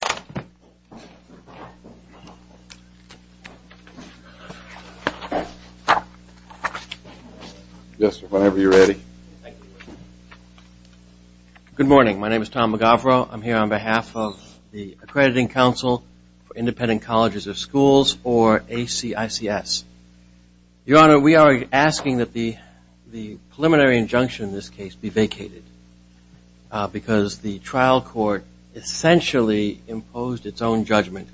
Good morning. My name is Tom McGavro. I'm here on behalf of the Accrediting Council for Independent Colleges of Schools or ACICS. Your Honor, we are asking that the preliminary court impose its own judgment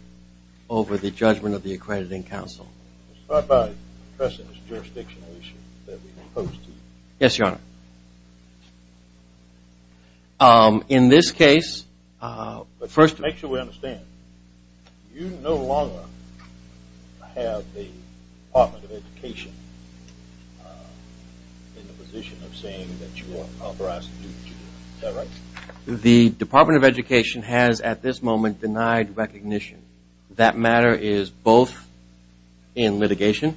over the judgment of the Accrediting Council. Yes, Your Honor. In this case, first make sure we understand, you no longer have the Department of Education in the position of saying that you are authorized to do what you want. Is that right? The Department of Education has at this moment denied recognition. That matter is both in litigation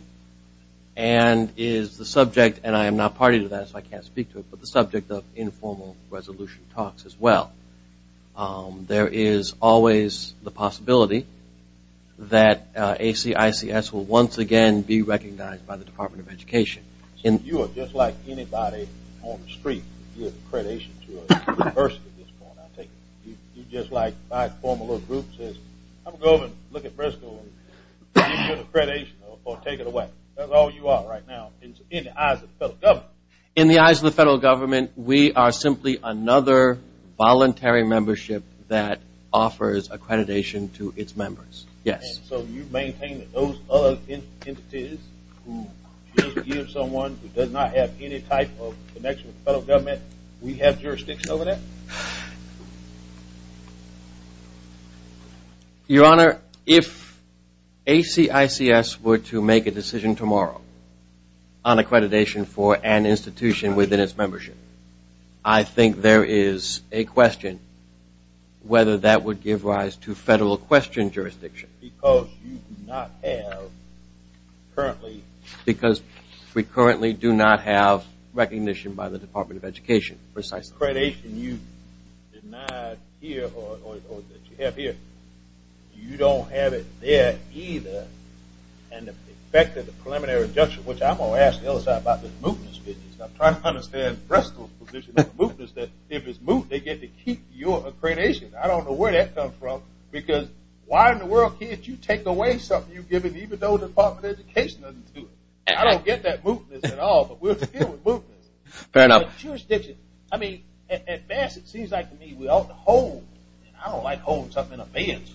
and is the subject, and I am not party to that so I can't speak to it, but the subject of informal resolution talks as well. There is always the possibility that ACICS will once again be recognized by In the eyes of the federal government, we are simply another voluntary membership that offers accreditation to its members. Yes. So you maintain that those other entities who give someone who does not have any type of connection with the federal government, we have jurisdiction over that? Your Honor, if ACICS were to make a decision tomorrow on accreditation for an institution within its membership, I think there is a question whether that would give rise to federal question jurisdiction. Because you do not have currently. Because we currently do not have recognition by the Department of Education. Precisely. Accreditation you denied here or that you have here, you don't have it there either, and the effect of the preliminary adjustment, which I'm going to ask the other side about this mootness business. I'm trying to understand Brestel's position on the If it's moot, they get to keep your accreditation. I don't know where that comes from, because why in the world can't you take away something you've given even though the Department of Education doesn't do it? I don't get that mootness at all, but we're still in mootness. Fair enough. I mean, at best, it seems like to me we ought to hold, and I don't like holding something in abeyance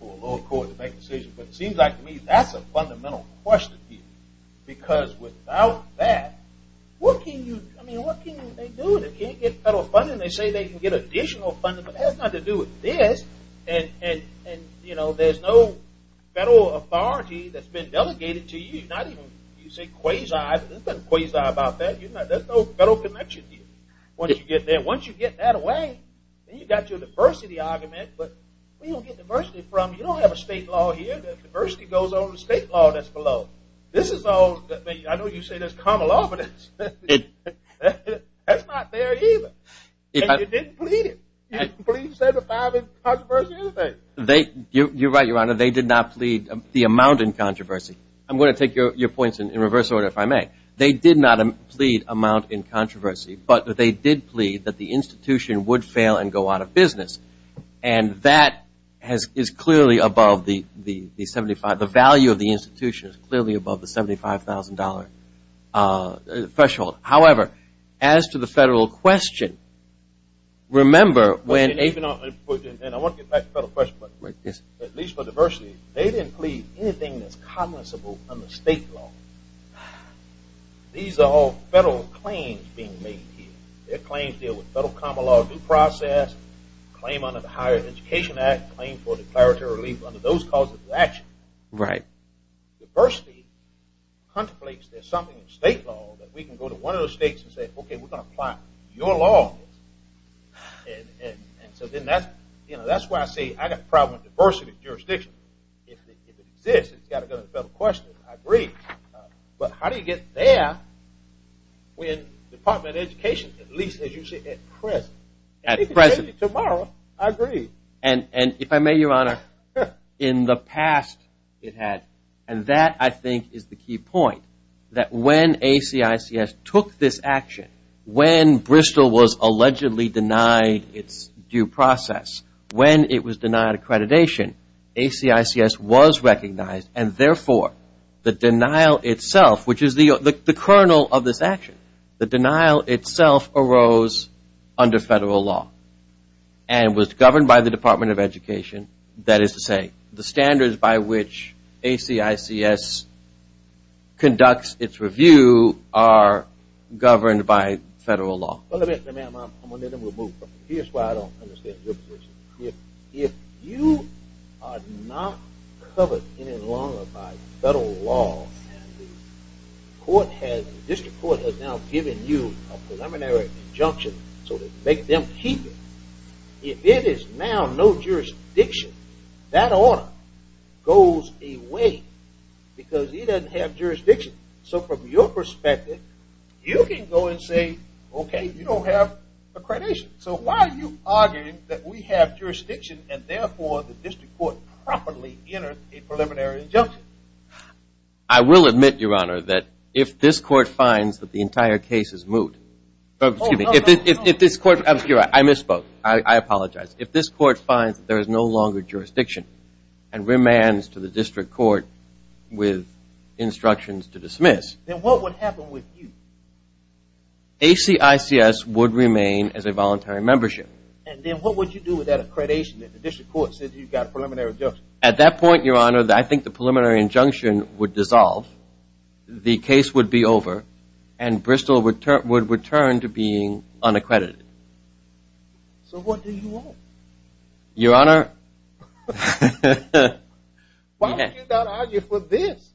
for a lower court to make a decision, but it seems like to me that's a fundamental question here. Because without that, what can you, I mean, what can they do that can't get federal funding? They say they can get additional funding, but it has nothing to do with this, and there's no federal authority that's been delegated to you. You say quasi, but there's no quasi about that. There's no federal connection here. Once you get that away, then you've got your diversity argument, but where do you get diversity from? You don't have a state law here. Diversity goes over the state law that's not there either, and you didn't plead it. You didn't plead to set aside controversy or anything. You're right, Your Honor. They did not plead the amount in controversy. I'm going to take your points in reverse order if I may. They did not plead amount in controversy, but they did plead that the institution would fail and go out of business, and that is clearly above the value of the $1,000 threshold. However, as to the federal question, remember when they put in, and I want to get back to the federal question, but at least for diversity, they didn't plead anything that's commensable under state law. These are all federal claims being made here. Their claims deal with federal common law due process, claim under the Higher Education Act, claim for declaratory relief under those causes of diversity, contemplates there's something in state law that we can go to one of those states and say, okay, we're going to apply your law on this. And so then that's why I say I've got a problem with diversity jurisdiction. If it exists, it's got to go to the federal question. I agree, but how do you get there when the Department of Education, at least as you see it at present, and if it's going to be tomorrow, I agree. And if I may, Your Honor, in the past it had, and that I think is the key point, that when ACICS took this action, when Bristol was allegedly denied its due process, when it was denied accreditation, ACICS was recognized, and therefore, the denial itself, which is the Department of Education, that is to say, the standards by which ACICS conducts its review are governed by federal law. Well, let me move on. Here's why I don't understand your position. If you are not covered any longer by federal law, and the court has, the district court has now given you a preliminary injunction, so to make them keep it, if it is now no jurisdiction, that order goes away because it doesn't have jurisdiction. So from your perspective, you can go and say, okay, you don't have accreditation. So why are you arguing that we have jurisdiction and therefore the district court properly entered a preliminary injunction? I will admit, Your Honor, that if this court finds that the entire case is moot, excuse me, if this court, I misspoke, I apologize, if this court finds that there is no longer jurisdiction and remands to the district court with instructions to dismiss. Then what would happen with you? ACICS would remain as a voluntary membership. And then what would you do with that accreditation that the district court said you've got a preliminary injunction? At that point, Your Honor, I think the preliminary injunction would dissolve, the case would be over, and Bristol would return to being unaccredited. So what do you want? Your Honor. Why don't you not argue for this?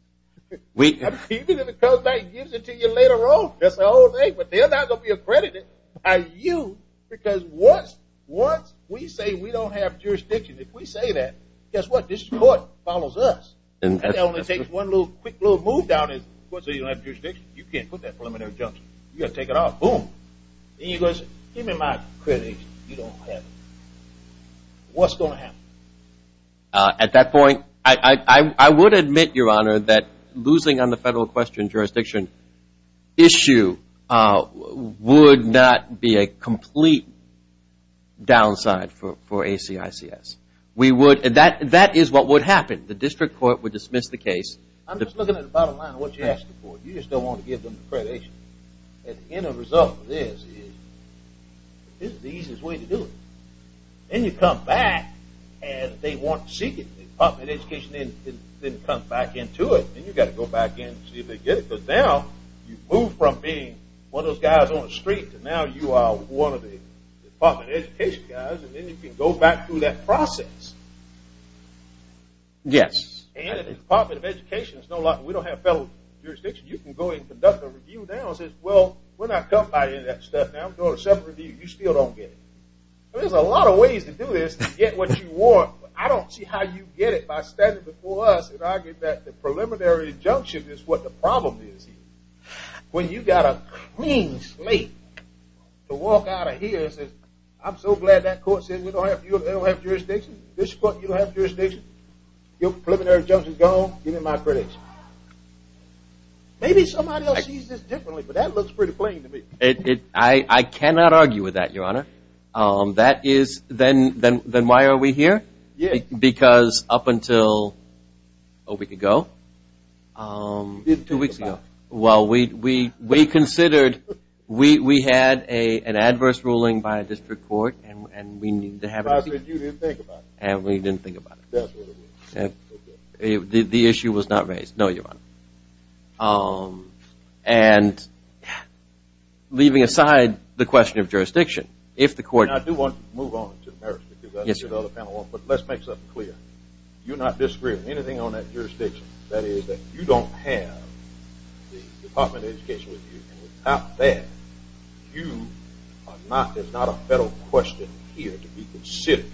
Even if it comes back and gives it to you later on, but they're not going to be accredited by you because once we say we don't have jurisdiction, if we say that, guess what, the district court follows us. And that only takes one quick little move down. You can't put that preliminary injunction. You've got to take it off. Boom. Give me my accreditation. You don't have it. What's going to happen? At that point, I would admit, Your Honor, that losing on the federal question jurisdiction issue would not be a complete downside for ACICS. We would, and that is what would happen. The district court would dismiss the case. I'm just looking at the bottom line of what you're asking for. You just don't want to give them accreditation. And the end result of this is this is the easiest way to do it. And you come back and they want to seek it. They pop it in education and then come back into it. And you've got to go back and see if they get it. Because now, you've moved from being one of those guys on the street to now you are one of the, you know, the Department of Education guys. And then you can go back through that process. Yes. And if the Department of Education is no longer, we don't have federal jurisdiction, you can go and conduct a review now and say, well, we're not going to buy any of that stuff now. We're going to do a separate review. You still don't get it. There's a lot of ways to do this to get what you want. I don't see how you get it by standing before us and arguing that the preliminary injunction is what the problem is here. When you've got a clean slate to walk out of here and say, I'm so glad that court said you don't have jurisdiction. This court, you don't have jurisdiction. Your preliminary injunction is gone. Give me my credits. Maybe somebody else sees this differently. But that looks pretty plain to me. I cannot argue with that, Your Honor. That is, then why are we here? Yes. Because up until a week ago. Two weeks ago. Well, we considered, we had an adverse ruling by a district court and we needed to have a review. I said you didn't think about it. And we didn't think about it. The issue was not raised. No, Your Honor. And leaving aside the question of jurisdiction, if the court. And I do want to move on to the merits. Yes, Your Honor. But let's make something clear. You're not disagreeing with anything on that jurisdiction. That is, that you don't have the Department of Education with you. And without that, you are not, it's not a federal question here to be considered.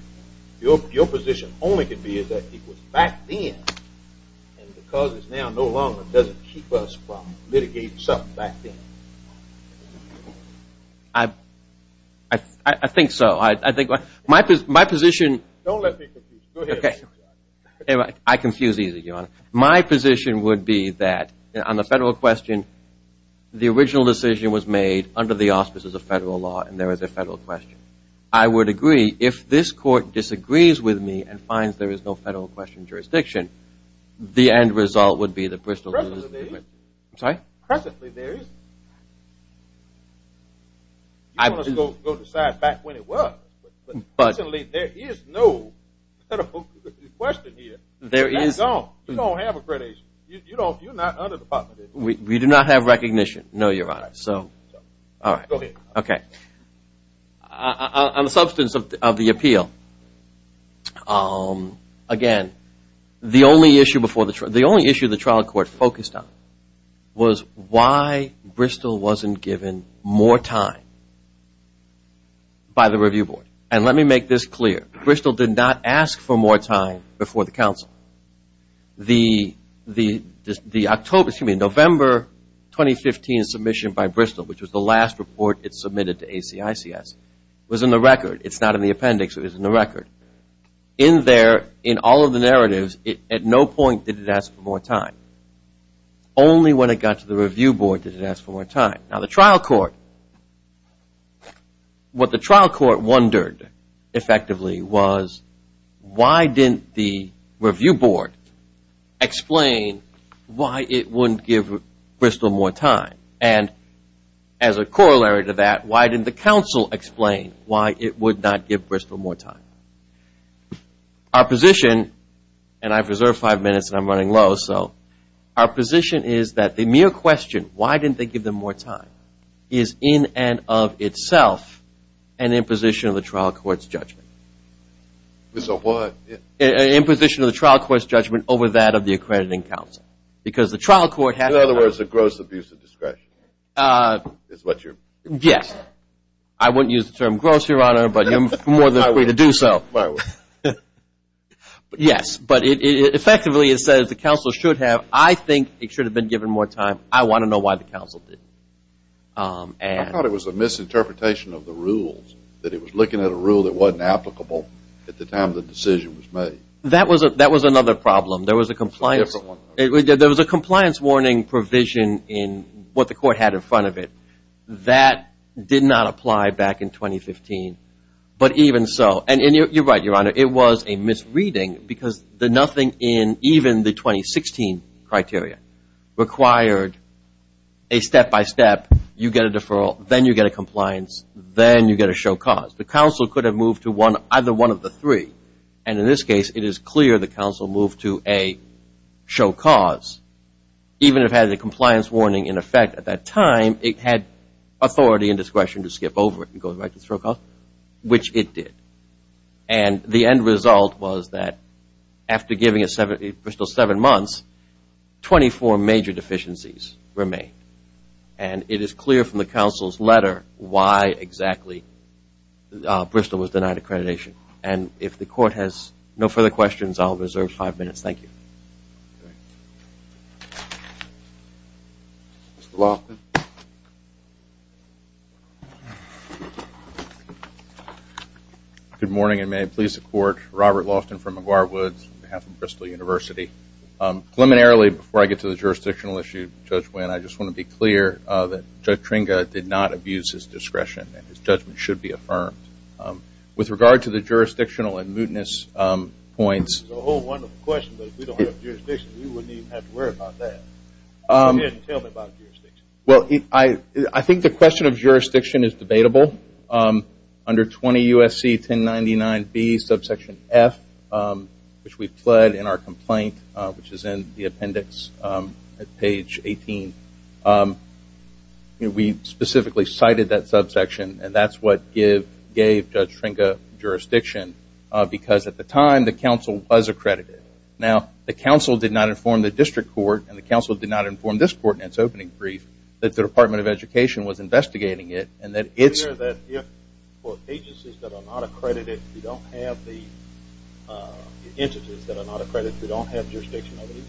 Your position only could be that it was back then. And because it's now no longer, it doesn't keep us from litigating something back then. I think so. My position. Don't let me confuse you. I confuse easy, Your Honor. My position would be that on the federal question, the original decision was made under the auspices of federal law. And there is a federal question. I would agree, if this court disagrees with me and finds there is no federal question in jurisdiction, the end result would be that Bristol. Presently there isn't. I'm sorry? Presently there isn't. You can go decide back when it was. Presently there is no federal question here. That's all. You don't have accreditation. You're not under the Department of Education. We do not have recognition. No, Your Honor. All right. Go ahead. Okay. On the substance of the appeal, again, the only issue the trial court focused on was why Bristol wasn't given more time by the review board. And let me make this clear. Bristol did not ask for more time before the counsel. The October, excuse me, November 2015 submission by Bristol, which was the last report it submitted to ACICS, was in the record. It's not in the appendix. It was in the record. In there, in all of the narratives, at no point did it ask for more time. Only when it got to the review board did it ask for more time. Now, the trial court, what the trial court wondered effectively was why didn't the review board explain why it wouldn't give Bristol more time? And as a corollary to that, why didn't the counsel explain why it would not give Bristol more time? Our position, and I've reserved five minutes and I'm running low, so our position is that the mere question, why didn't they give them more time, is in and of itself an imposition of the trial court's judgment. It's a what? An imposition of the trial court's judgment over that of the accrediting counsel. Because the trial court had to... In other words, a gross abuse of discretion is what you're... Yes. I wouldn't use the term gross, Your Honor, but you're more than free to do so. Yes, but effectively it says the counsel should have... I think it should have been given more time. I want to know why the counsel didn't. I thought it was a misinterpretation of the rules, that it was looking at a rule that wasn't applicable at the time the decision was made. That was another problem. There was a compliance... A different one. There was a compliance warning provision in what the court had in front of it. That did not apply back in 2015, but even so... And you're right, Your Honor, it was a misreading because nothing in even the 2016 criteria required a step-by-step, you get a deferral, then you get a compliance, then you get a show cause. The counsel could have moved to either one of the three. And in this case, it is clear the counsel moved to a show cause. Even if it had a compliance warning in effect at that time, it had authority and discretion to skip over it and go right to show cause, which it did. And the end result was that after giving Bristol seven months, 24 major deficiencies remained. And it is clear from the counsel's letter why exactly Bristol was denied accreditation. And if the court has no further questions, I'll reserve five minutes. Thank you. Mr. Loftin. Good morning, and may it please the Court. Robert Loftin from McGuire Woods on behalf of Bristol University. Preliminarily, before I get to the jurisdictional issue, Judge Wynn, I just want to be clear that Judge Tringa did not abuse his discretion, and his judgment should be affirmed. With regard to the jurisdictional and mootness points... It's a whole wonderful question, but if we don't have jurisdiction, we wouldn't even have to worry about that. Tell me about jurisdiction. Well, I think the question of jurisdiction is debatable. Under 20 U.S.C. 1099B, subsection F, which we've pled in our complaint, which is in the appendix at page 18, we specifically cited that subsection, and that's what gave Judge Tringa jurisdiction. Because at the time, the council was accredited. Now, the council did not inform the district court, and the council did not inform this court in its opening brief, that the Department of Education was investigating it, and that it's... Is it clear that for agencies that are not accredited, we don't have the entities that are not accredited, we don't have jurisdiction over these?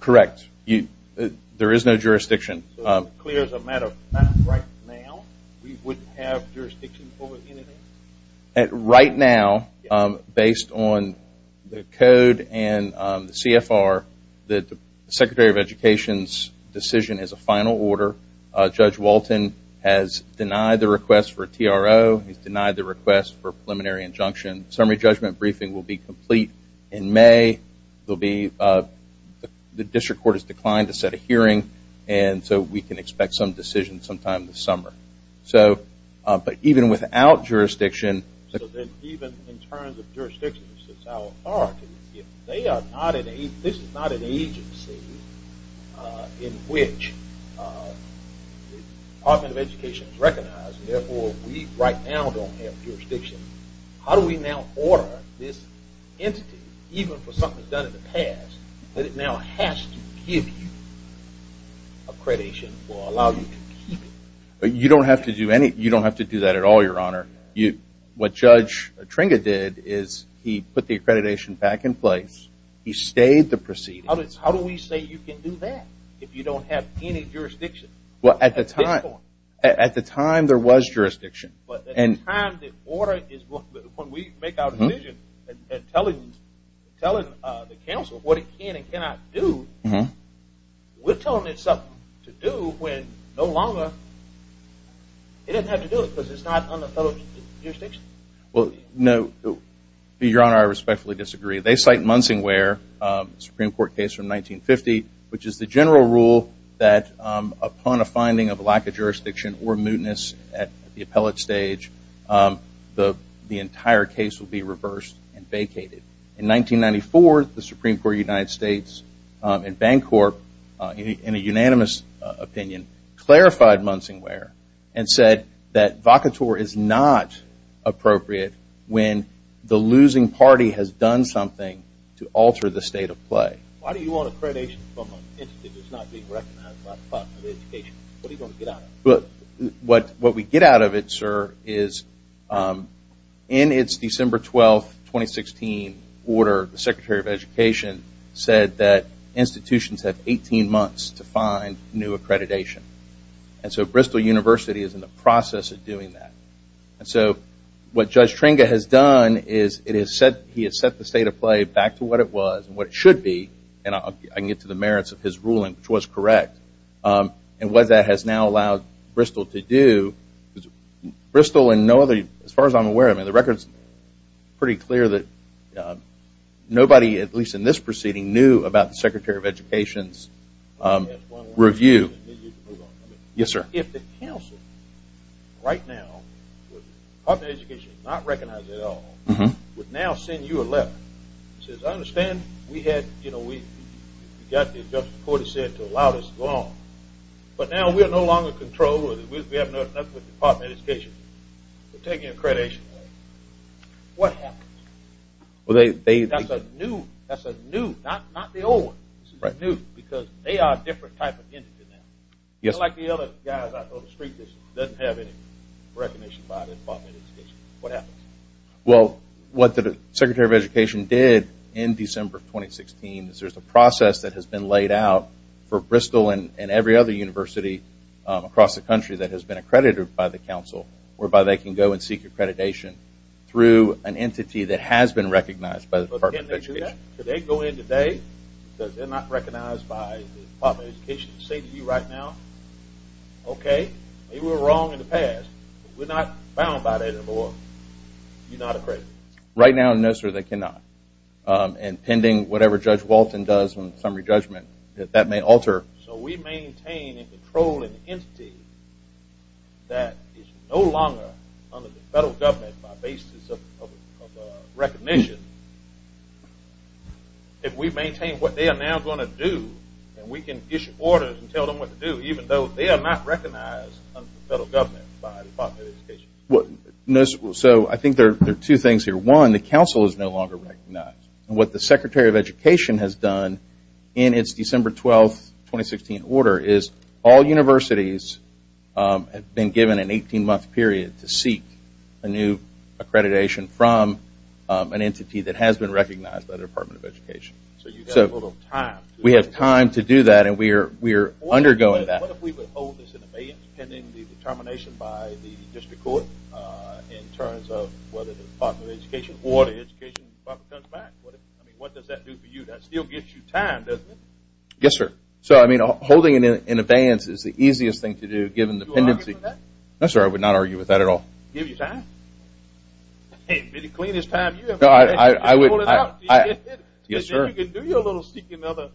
Correct. There is no jurisdiction. So it's clear as a matter of fact, right now, we wouldn't have jurisdiction over anything? Right now, based on the code and the CFR, the Secretary of Education's decision is a final order. Judge Walton has denied the request for a TRO. He's denied the request for a preliminary injunction. Summary judgment briefing will be complete in May. There will be... The district court has declined to set a hearing, and so we can expect some decision sometime this summer. So, but even without jurisdiction... So then, even in terms of jurisdiction, since our authority, if they are not an agency, this is not an agency in which the Department of Education is recognized, and therefore, we right now don't have jurisdiction, how do we now order this entity, even for something done in the past, that it now has to give you accreditation, or allow you to keep it? You don't have to do that at all, Your Honor. What Judge Tringa did is, he put the accreditation back in place. He stayed the proceedings. How do we say you can do that, if you don't have any jurisdiction? At this point. At the time, there was jurisdiction. But at the time, the order is... When we make our decision, and tell the council what it can and cannot do, we're telling it something to do when no longer... It doesn't have to do it, because it's not under federal jurisdiction. Well, no. Your Honor, I respectfully disagree. They cite Munsingware, Supreme Court case from 1950, which is the general rule that, upon a finding of lack of jurisdiction or mootness at the appellate stage, the entire case will be reversed and vacated. In 1994, the Supreme Court of the United States and Bancorp, in a unanimous opinion, clarified Munsingware, and said that vacatur is not appropriate when the losing party has done something to alter the state of play. Why do you want accreditation from an entity that's not being recognized by the Department of Education? What are you going to get out of it? What we get out of it, sir, is in its December 12, 2016 order, the Secretary of Education said that institutions have 18 months to find new accreditation. And so Bristol University is in the process of doing that. And so what Judge Tringa has done is, he has set the state of play back to what it was, and what it should be, and I can get to the merits of his ruling, which was correct. And what that has now allowed Bristol to do... Bristol and no other... As far as I'm aware, the record's pretty clear that nobody, at least in this proceeding, knew about the Secretary of Education's review. Yes, sir. If the council, right now, with the Department of Education not recognizing it at all, would now send you a letter that says, I understand we had, you know, we got the adjustment court that said to allow this to go on, but now we are no longer in control or we have nothing with the Department of Education. We're taking accreditation away. What happens? Well, they... That's a new... That's a new... Not the old one. This is new, because they are a different type of entity now. Yes. Unlike the other guys on the street that doesn't have any recognition by the Department of Education. What happens? Well, what the Secretary of Education did in December of 2016 is there's a process that has been laid out for Bristol and every other university across the country that has been accredited by the council whereby they can go and seek accreditation through an entity that has been recognized by the Department of Education. But can they do that? Could they go in today because they're not recognized by the Department of Education to say to you right now, okay, maybe we were wrong in the past, but we're not bound by that anymore. You're not accredited. Right now, no sir, they cannot. And pending whatever Judge Walton does in the summary judgment, that that may alter... So we maintain in control an entity that is no longer under the federal government by basis of recognition if we maintain what they are now going to do and we can issue orders and tell them what to do even though they are not recognized under the federal government by the Department of Education. So I think there are two things here. One, the council is no longer recognized. What the Secretary of Education has done in its December 12, 2016 order is all universities have been given an 18-month period to seek a new accreditation from an entity that has been recognized by the Department of Education. So you have a little time. We have time to do that and we are undergoing that. What if we would hold this in abeyance pending the determination by the district court in terms of whether the Department of Education or the Education Department comes back? I mean, what does that do for you? That still gives you time, doesn't it? Yes, sir. So I mean, holding it in abeyance is the easiest thing to do given the pendency. Would you argue with that? Not at all. Give you time? It would be the cleanest time you have ever had. No, I would not. You can do your little seeking other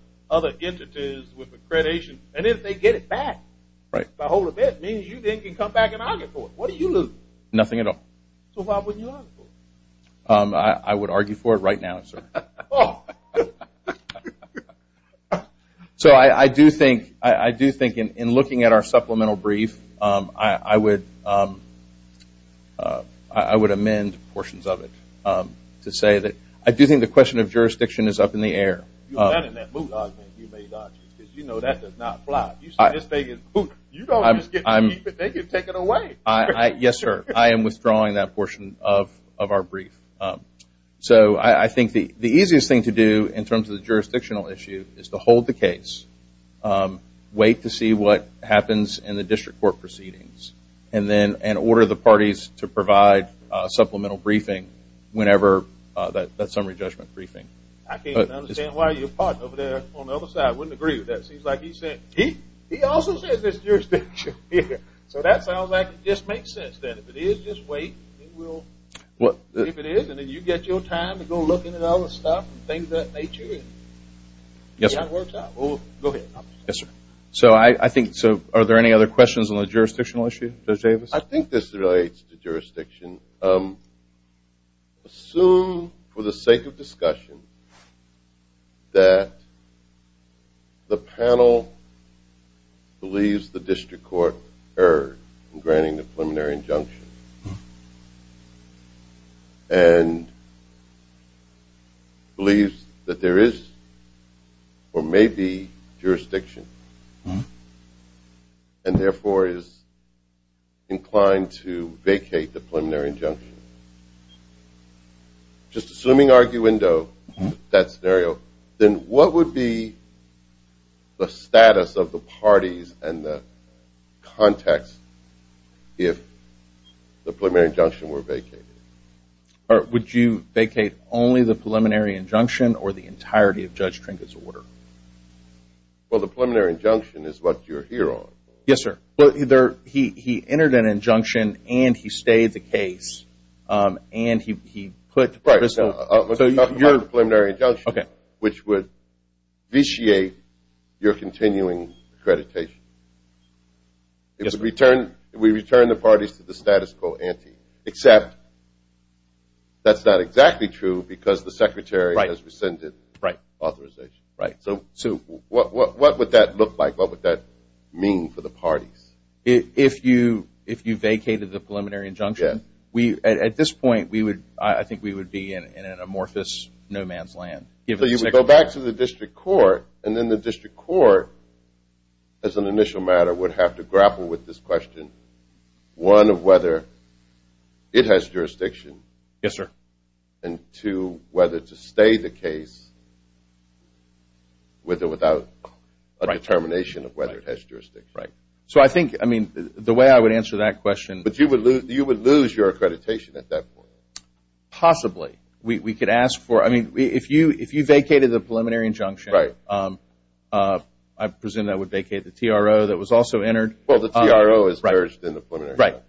entities with accreditation and if they get it back by hold of it, it means you then can come back and argue for it. What do you lose? Nothing at all. So why wouldn't you argue for it? I would argue for it right now, sir. So I do think in looking at our supplemental brief, I would amend portions of it to say that I do think the question of jurisdiction is up in the air. You may not because you know that does not fly. You say this thing is booted. You don't just get taken away. Yes, sir. I am withdrawing that portion of our brief. So I think the easiest thing to do in terms of the jurisdictional issue is to hold the case, wait to see what happens in the district court proceedings and then order the parties to provide supplemental briefing whenever that summary judgment briefing. I can't understand why your partner over there on the other side wouldn't agree with that. It seems like he said he also says there's jurisdiction here. So that sounds like it just makes sense that if it is, just wait. If it is and then you get your time to go looking at all the stuff and things of that nature. Yes, sir. Go ahead. Yes, sir. So I think are there any other questions on the jurisdictional issue? Judge Davis? I think this relates to jurisdiction. Assume for the sake of discussion that the panel the district court erred in granting the preliminary injunction and believes that there is or may be jurisdiction and therefore is inclined to vacate the preliminary injunction. Just assuming arguendo that scenario then what would be the status of the parties and the context if the preliminary injunction were vacated? Would you vacate only the preliminary injunction or the entirety of Judge Trinket's order? Well, the preliminary injunction is what you're here on. Yes, sir. Well, he entered an injunction and he stayed the case and he put Right. We're talking about the preliminary injunction which would vitiate your continuing accreditation. Yes, sir. We return the parties to the status quo ante except that's not exactly true because the secretary has rescinded authorization. Right. So what would that look like? What would that mean for the parties? If you vacated the preliminary injunction we at this point I think we would be in an amorphous no man's land. So you would go back to the district court and then the district court as an initial matter would have to grapple with this question one of whether it has jurisdiction Yes, sir. and two whether to stay the case with or without a determination of whether it has jurisdiction. Right. So I think the way I would answer that question But you would lose your accreditation at that point. Possibly. We could ask for I mean if you vacated the preliminary injunction Right. I presume that would vacate the TRO that was also entered. Well, the TRO is merged in the preliminary injunction.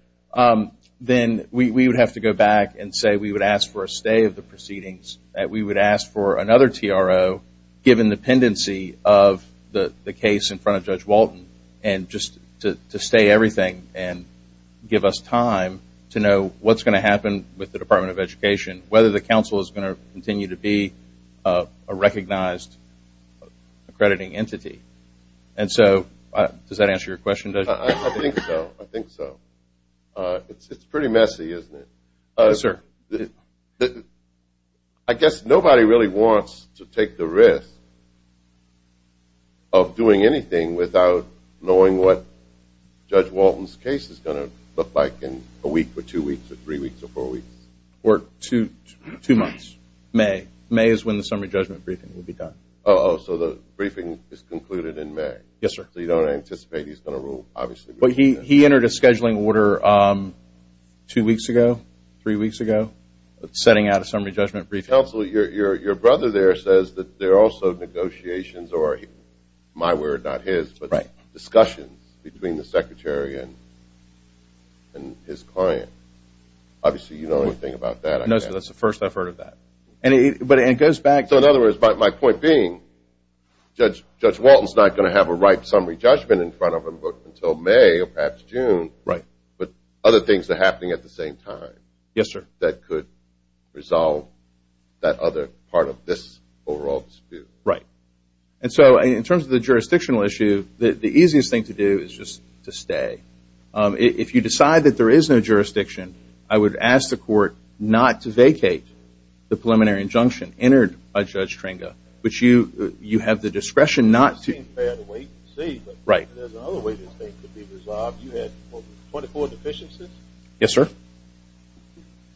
Right. Then we would have to go back and say we would ask for a stay of the proceedings that we would ask for another TRO given the pendency of the case in front of Judge Walton and just to stay everything and give us time to know what's going to happen with the Department of Education whether the council is going to continue to be a recognized accrediting entity. And so does that answer your question? I think so. I think so. It's pretty messy isn't it? Yes, sir. But I guess nobody really wants to take the risk of doing anything without knowing what Judge Walton's case is going to look like in a week or two weeks or three weeks or four weeks. Or two months. May. May is when the summary judgment briefing will be done. Oh, so the briefing is concluded in May. Yes, sir. So you don't anticipate he's going to rule obviously. But he entered a scheduling order two weeks ago, three weeks ago setting out a summary judgment briefing. Counselor, your brother there says that there are also negotiations or my word, not his, but discussions between the Secretary and his client. Obviously, you don't know anything about that. No, sir. That's the first I've heard of that. But it goes back So in other words, my point being Judge Walton's not going to have a ripe summary judgment in front of him until May or perhaps June. Right. But other things are happening at the same time. Yes, sir. That could resolve that other part of this overall dispute. Right. And so in terms of the jurisdictional issue, the easiest thing to do is just to stay. If you decide that there is no jurisdiction, I would ask the court not to vacate the preliminary injunction entered by Judge Tringa, which you have the discretion not to. It seems bad to wait and see. Right. There's another way this thing could be resolved. You had 24 deficiencies? Yes, sir.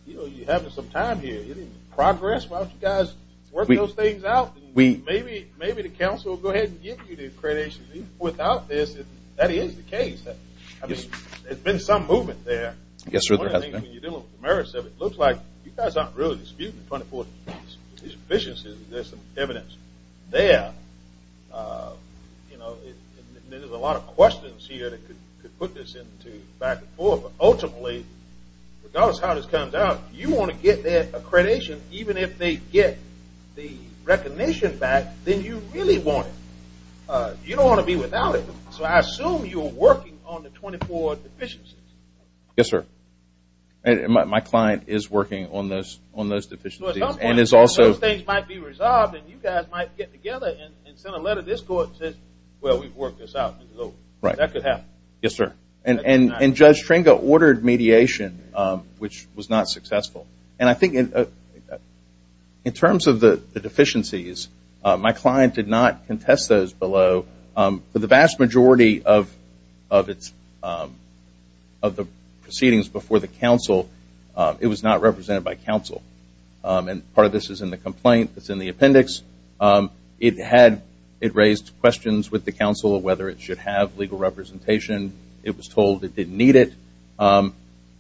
You know, you're having some time here. You're making progress. Why don't you guys work those things out? Maybe the counsel will go ahead and give you the accreditation. Without this, that is the case. I mean, there's been some movement there. Yes, sir. When you're dealing with the merits of it, it looks like you guys aren't really disputing 24 deficiencies. There's some evidence there. You know, there's a lot of questions here that could put this into back and forth. But ultimately, regardless of how this comes out, you want to get that accreditation even if they get the recognition back, then you really want it. You don't want to be without it. you're working on the 24 deficiencies. Yes, sir. And my client is working on those deficiencies and is also... At some point, those things might be resolved and you guys might get together and send a letter to this court and say, well, we've worked this out, this is over. That could happen. Yes, sir. And Judge Tringa ordered mediation which was not successful. And I think in terms of the deficiencies, my client did not contest those below. For the vast majority of the proceedings before the counsel, And part of this is in the complaint. It's in the appendix. It had... It raised questions about whether or not it would be a good thing to do. It raised questions with the counsel whether it should have legal representation. It was told it didn't need it.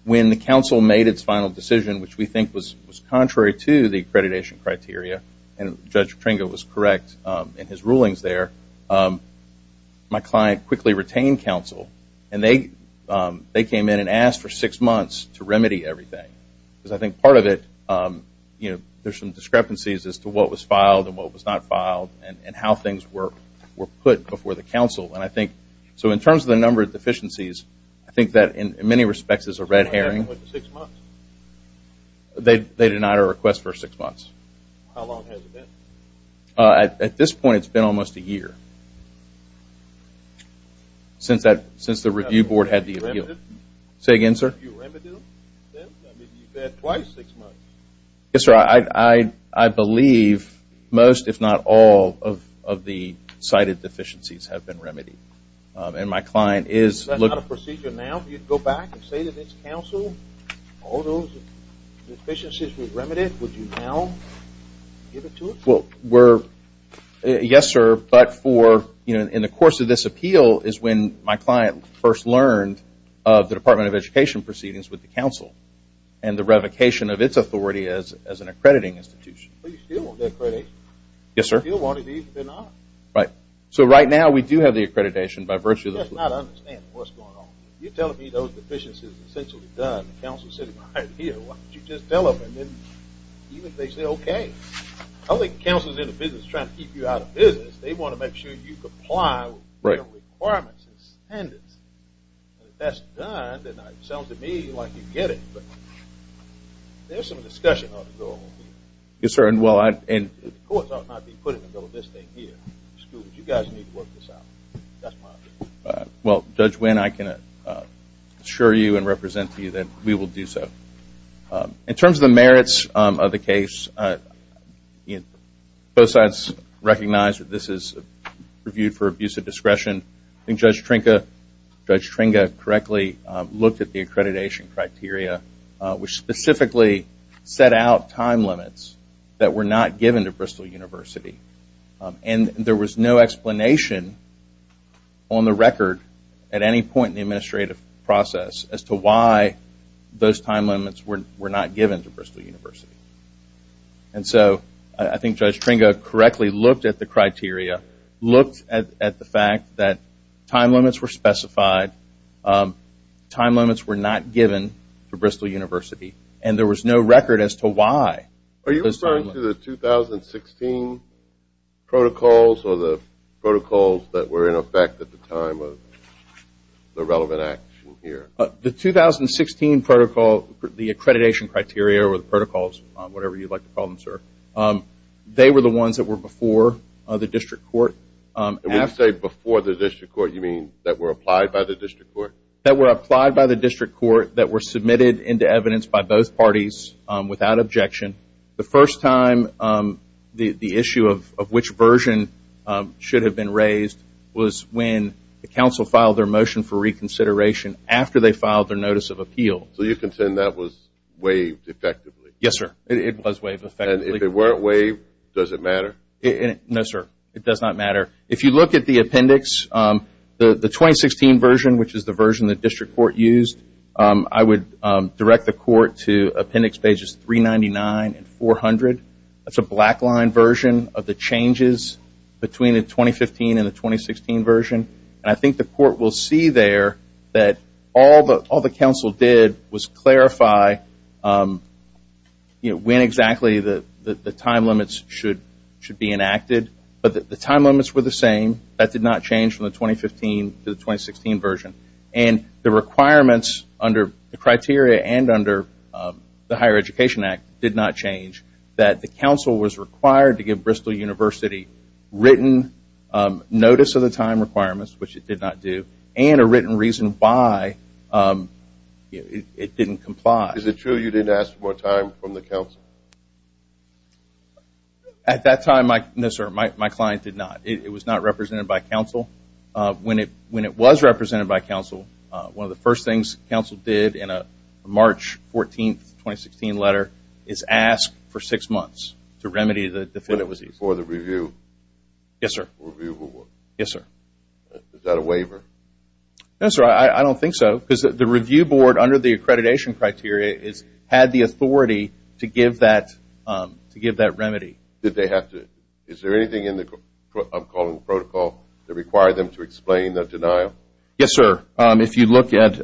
When the counsel made its final decision which we think was contrary to the accreditation criteria, and Judge Tringa was correct in his rulings there, my client quickly retained counsel and they came in and asked for six months to remedy everything. Because I think part of it, you know, there's some discrepancies as to what was filed and what was not filed and how things were put before the counsel. And I think so in terms of the number of deficiencies, I think that in many respects is a red herring. Six months? They denied our request for six months. How long has it been? At this point it's been almost a year. Since that... Since the review board had the appeal. Say again, sir? Remedial? I mean, you've had twice six months. Yes, sir. I believe most, if not all, of the cited deficiencies have been remedied. And my client is... Is that not a procedure now? You'd go back and say that it's counsel? All those deficiencies were remedied? Would you now give it to us? Well, we're... Yes, sir. But for... In the course of this appeal is when my client first learned of the Department of Education proceedings with the counsel and the revocation of its authority as an accrediting institution. But you still want the accreditation? Yes, sir. If you still want it, these have been on. Right. So right now, we do have the accreditation by virtue of the... That's not understanding what's going on. You're telling me those deficiencies are essentially done and counsel's sitting behind here. Why don't you just tell them and then even if they say okay. I don't think the counsel is in the business trying to keep you out of business. They want to make sure you comply with the requirements and standards. And if that's done, then it sounds to me like you get it. There's some discussion going on here. Yes, sir. And well, the courts are not being put in the middle of this thing here. You guys need to work this out. That's my opinion. Well, Judge Winn, I can assure you and represent to you that we will do so. In terms of the merits of the case, both sides recognize that this is reviewed for abuse of discretion. I think Judge Trinca, Judge Tringa, correctly looked at the accreditation. criteria, which specifically set out time limits that were not given to Bristol University. And there was no explanation on the record at any point in the administrative process as to why those time limits were not given to Bristol University. And so, I think Judge Tringa correctly looked at the criteria, looked at the fact that time limits were specified, time limits were not given to Bristol University. And there was as to why those time limits. Are you referring to the 2016 protocols or the protocols that were in effect at the time of the relevant action here? The 2016 protocol, the accreditation criteria or the protocols, whatever you'd like to call them, sir, they were the ones that were before the district court. When you say before the district court, you mean that were applied by the district court? That were applied by the district court that were submitted into evidence by both parties without objection. The first time the issue of which version should have been raised was when the council filed their motion for reconsideration after they filed their notice of appeal. So you contend that was waived effectively? Yes, sir. It was waived effectively. And if it weren't waived, does it matter? No, sir. It does not matter. If you look at the appendix, the 2016 version, which is the version the district court used, I would direct the court to appendix pages 399 and 400. That's a black line version of the changes between the 2015 and the 2016 version. And I think the court will see there that all the council did was clarify when exactly the time limits should be enacted. But the time limits were the same. That did not change from the 2015 to the 2016 version. And the requirements under the criteria and under the Higher Education Act did not change that the council was required to give Bristol University written notice of the time requirements, which it did not do, and a written reason why it didn't comply. Is it true you didn't ask for more time from the council? At that time, no, sir, my client did not. It was not represented by council when it was represented by council. One of the first things council did in a March 14, 2016 letter is ask for six months to remedy the physical disease. Before the review? Yes, sir. Is that a waiver? No, sir, I don't think so. The review board under the accreditation criteria had the authority to give that remedy. Did they have to? Is there anything in the protocol that required them to explain the denial? Yes, sir. If you look at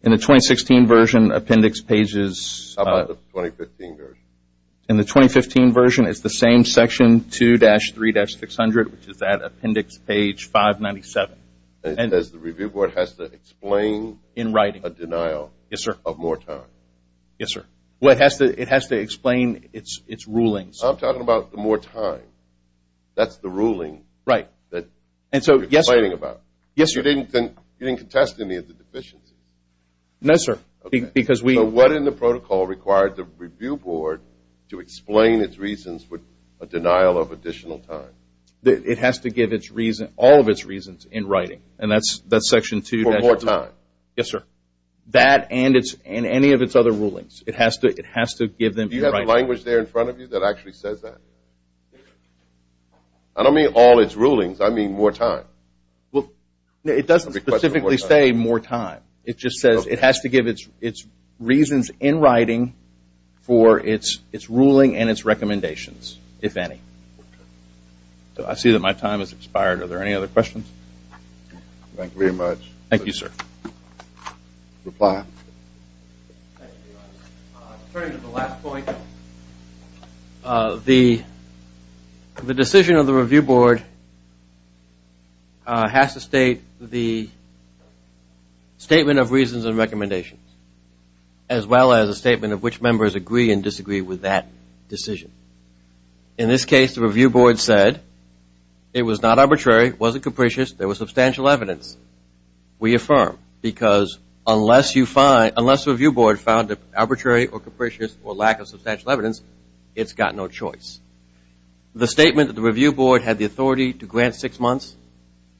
in the 2016 version appendix pages How about the 2015 version? In the 2015 version it's the same section 2-3-600 which is that appendix page 597. It says the review board has to explain in writing a denial of more time. Yes, sir. It has to explain its rulings. I'm talking about the more time. That's the ruling that you're explaining about. Yes, sir. You didn't contest any of the deficiencies. No, sir. What in the protocol required the review board to explain its reasons of additional time? It has to give all of its reasons in writing. And that's section 2-3-600. For more time? Yes, sir. That and any of its other rulings. It has to give them in writing. Do you have the language there in front of you that actually says that? I don't mean all its rulings. I mean more time. Well, it doesn't specifically say more time. It just says it has to give its reasons in writing for its ruling and its recommendations if any. I see that my time has expired. Are there any other questions? Thank you very much. Thank you, sir. Reply. Thank you very much. Turning to the last point, the decision of the review board has to state the statement of reasons and recommendations as well as a statement of which members agree and disagree with that decision. In this case, the review board said it was not arbitrary, it wasn't capricious, there was substantial evidence. We affirm because unless you find, unless the review board found it arbitrary or capricious or lack of substantial evidence, it's got no choice. The statement that the review board had the authority to grant six months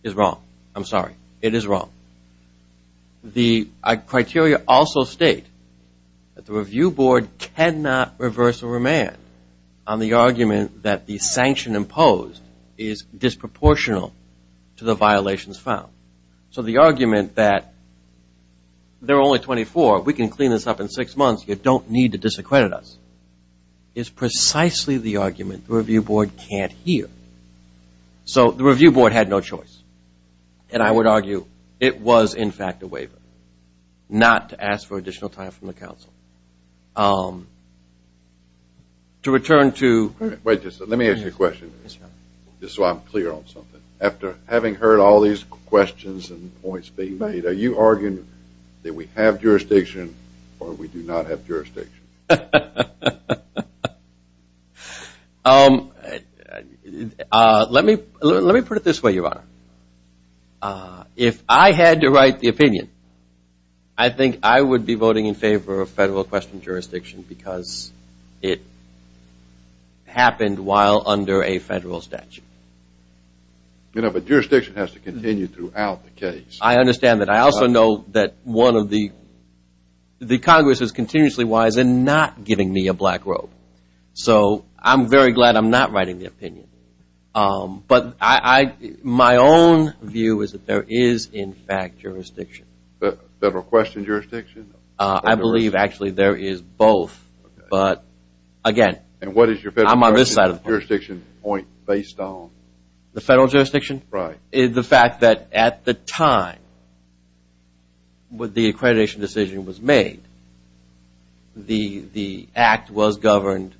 is wrong. I'm sorry. It is wrong. The criteria also state that the review board cannot reverse or remand on the argument that the sanction imposed is disproportional to the violations found. So the argument that there are only 24, we can clean this up in six months, you don't need to is precisely the argument the review board can't hear. So the review board had no choice. And I would argue it was in fact a waiver. Not to ask for additional time from the council. To return to Wait, just let me ask you a question. Just so I'm clear on something. After having heard all these questions and points being made, are you arguing that we have jurisdiction or we do not have jurisdiction? Um, let me put it this way, your honor. If I had to write the opinion, I think I would be voting in favor of federal jurisdiction because it happened while under a federal statute. You know, but jurisdiction has to continue throughout the case. I understand that. I also know that one of the the Congress is continuously wise in not giving me a black robe. So, I'm very glad I'm not writing the opinion. But, my own view is that there is in fact jurisdiction. Federal question jurisdiction? I believe actually there is both. But, again, I'm on this side of the point. Based on the federal jurisdiction? Right. The fact that at the time when the accreditation decision was made, the act was governed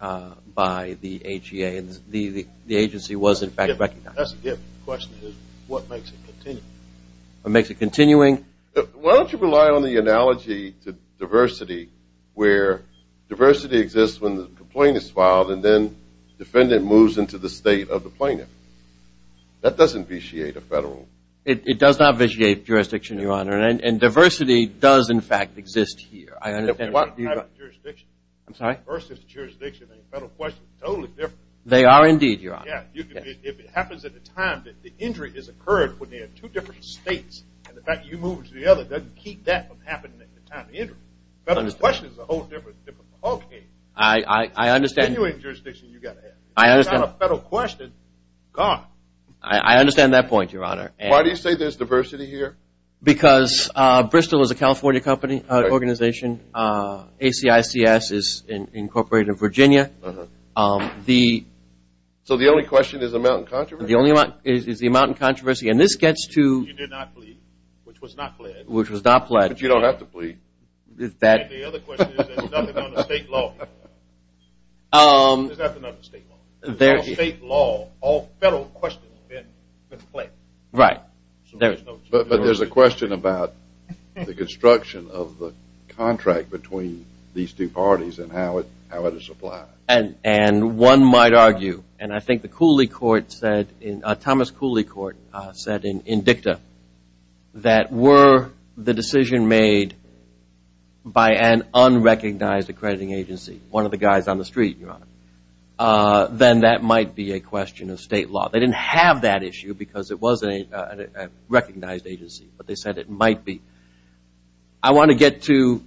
by the AGA and the agency was in fact recognized. That's a good question. What makes it continue? What makes it continuing? Why don't you rely on the analogy to diversity where diversity exists when the complaint is filed and then defendant moves into the state of the plaintiff. That doesn't vitiate a federal. It does not vitiate jurisdiction, Your Honor. And diversity does in fact exist here. I understand. I'm sorry? Versus jurisdiction and federal questions are totally different. They are indeed, Your Honor. Yeah. If it happens at the time that the injury has occurred when they are in two different states and the fact that you move to the other doesn't keep that from happening at the time of the injury. Federal jurisdiction is a whole different thing. Okay. I understand. Continuing jurisdiction you've got to have. I understand. If you have a federal question, gone. I understand that point, Your Honor. Why do you say there's diversity here? Because Bristol is a California organization. ACICS is incorporated in Virginia. Uh-huh. So the only question is the amount of controversy? The only amount is the amount of controversy. And this gets to. You did not plead, which was not pledged. Which was not pledged. But you don't have to plead. And the other question is there's nothing on the state law. There's nothing on the state law. There's no state law. All federal questions have been conflicted. Right. But there's a question about the construction of the contract between these two parties and how it is applied. And one might argue, and I think the Cooley court said, Thomas Cooley court said in DICTA that were the decision made by an unrecognized accrediting agency. One of the guys on the street, Your Honor. Then that might be a question of state law. They didn't have that issue because it wasn't a recognized agency. But they said it might be. I want to get to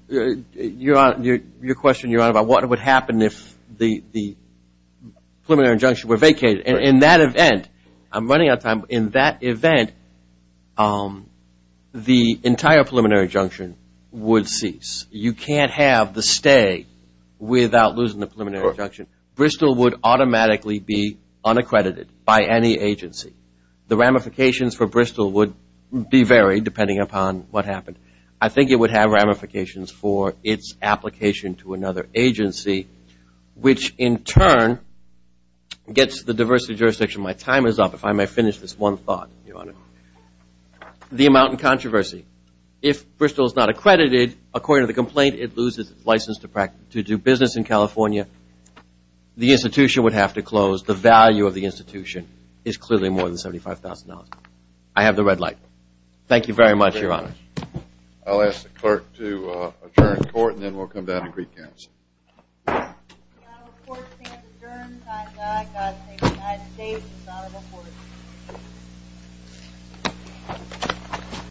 Your Honor, your question, Your Honor, about what would happen if the preliminary injunction were vacated. In that event, I'm running out of time. In that event, the entire preliminary injunction would cease. You can't have the stay without losing the preliminary injunction. Bristol would automatically be unaccredited by any agency. The ramifications for Bristol would be varied depending upon what happened. I think it would have ramifications for its application to another agency which in turn gets the diversity jurisdiction. My time is up. If I may finish this one thought, Your Honor. The amount in controversy. If Bristol is not accredited, according to the complaint, it loses its license to do business in California, the institution would have to close. The value of the institution is clearly more than $75,000. I have the red light. Thank you very much, Your Honor. I'll ask the clerk to adjourn the court and then we'll come down to Greek Council. The court is adjourned. God save the United States. The court is adjourned.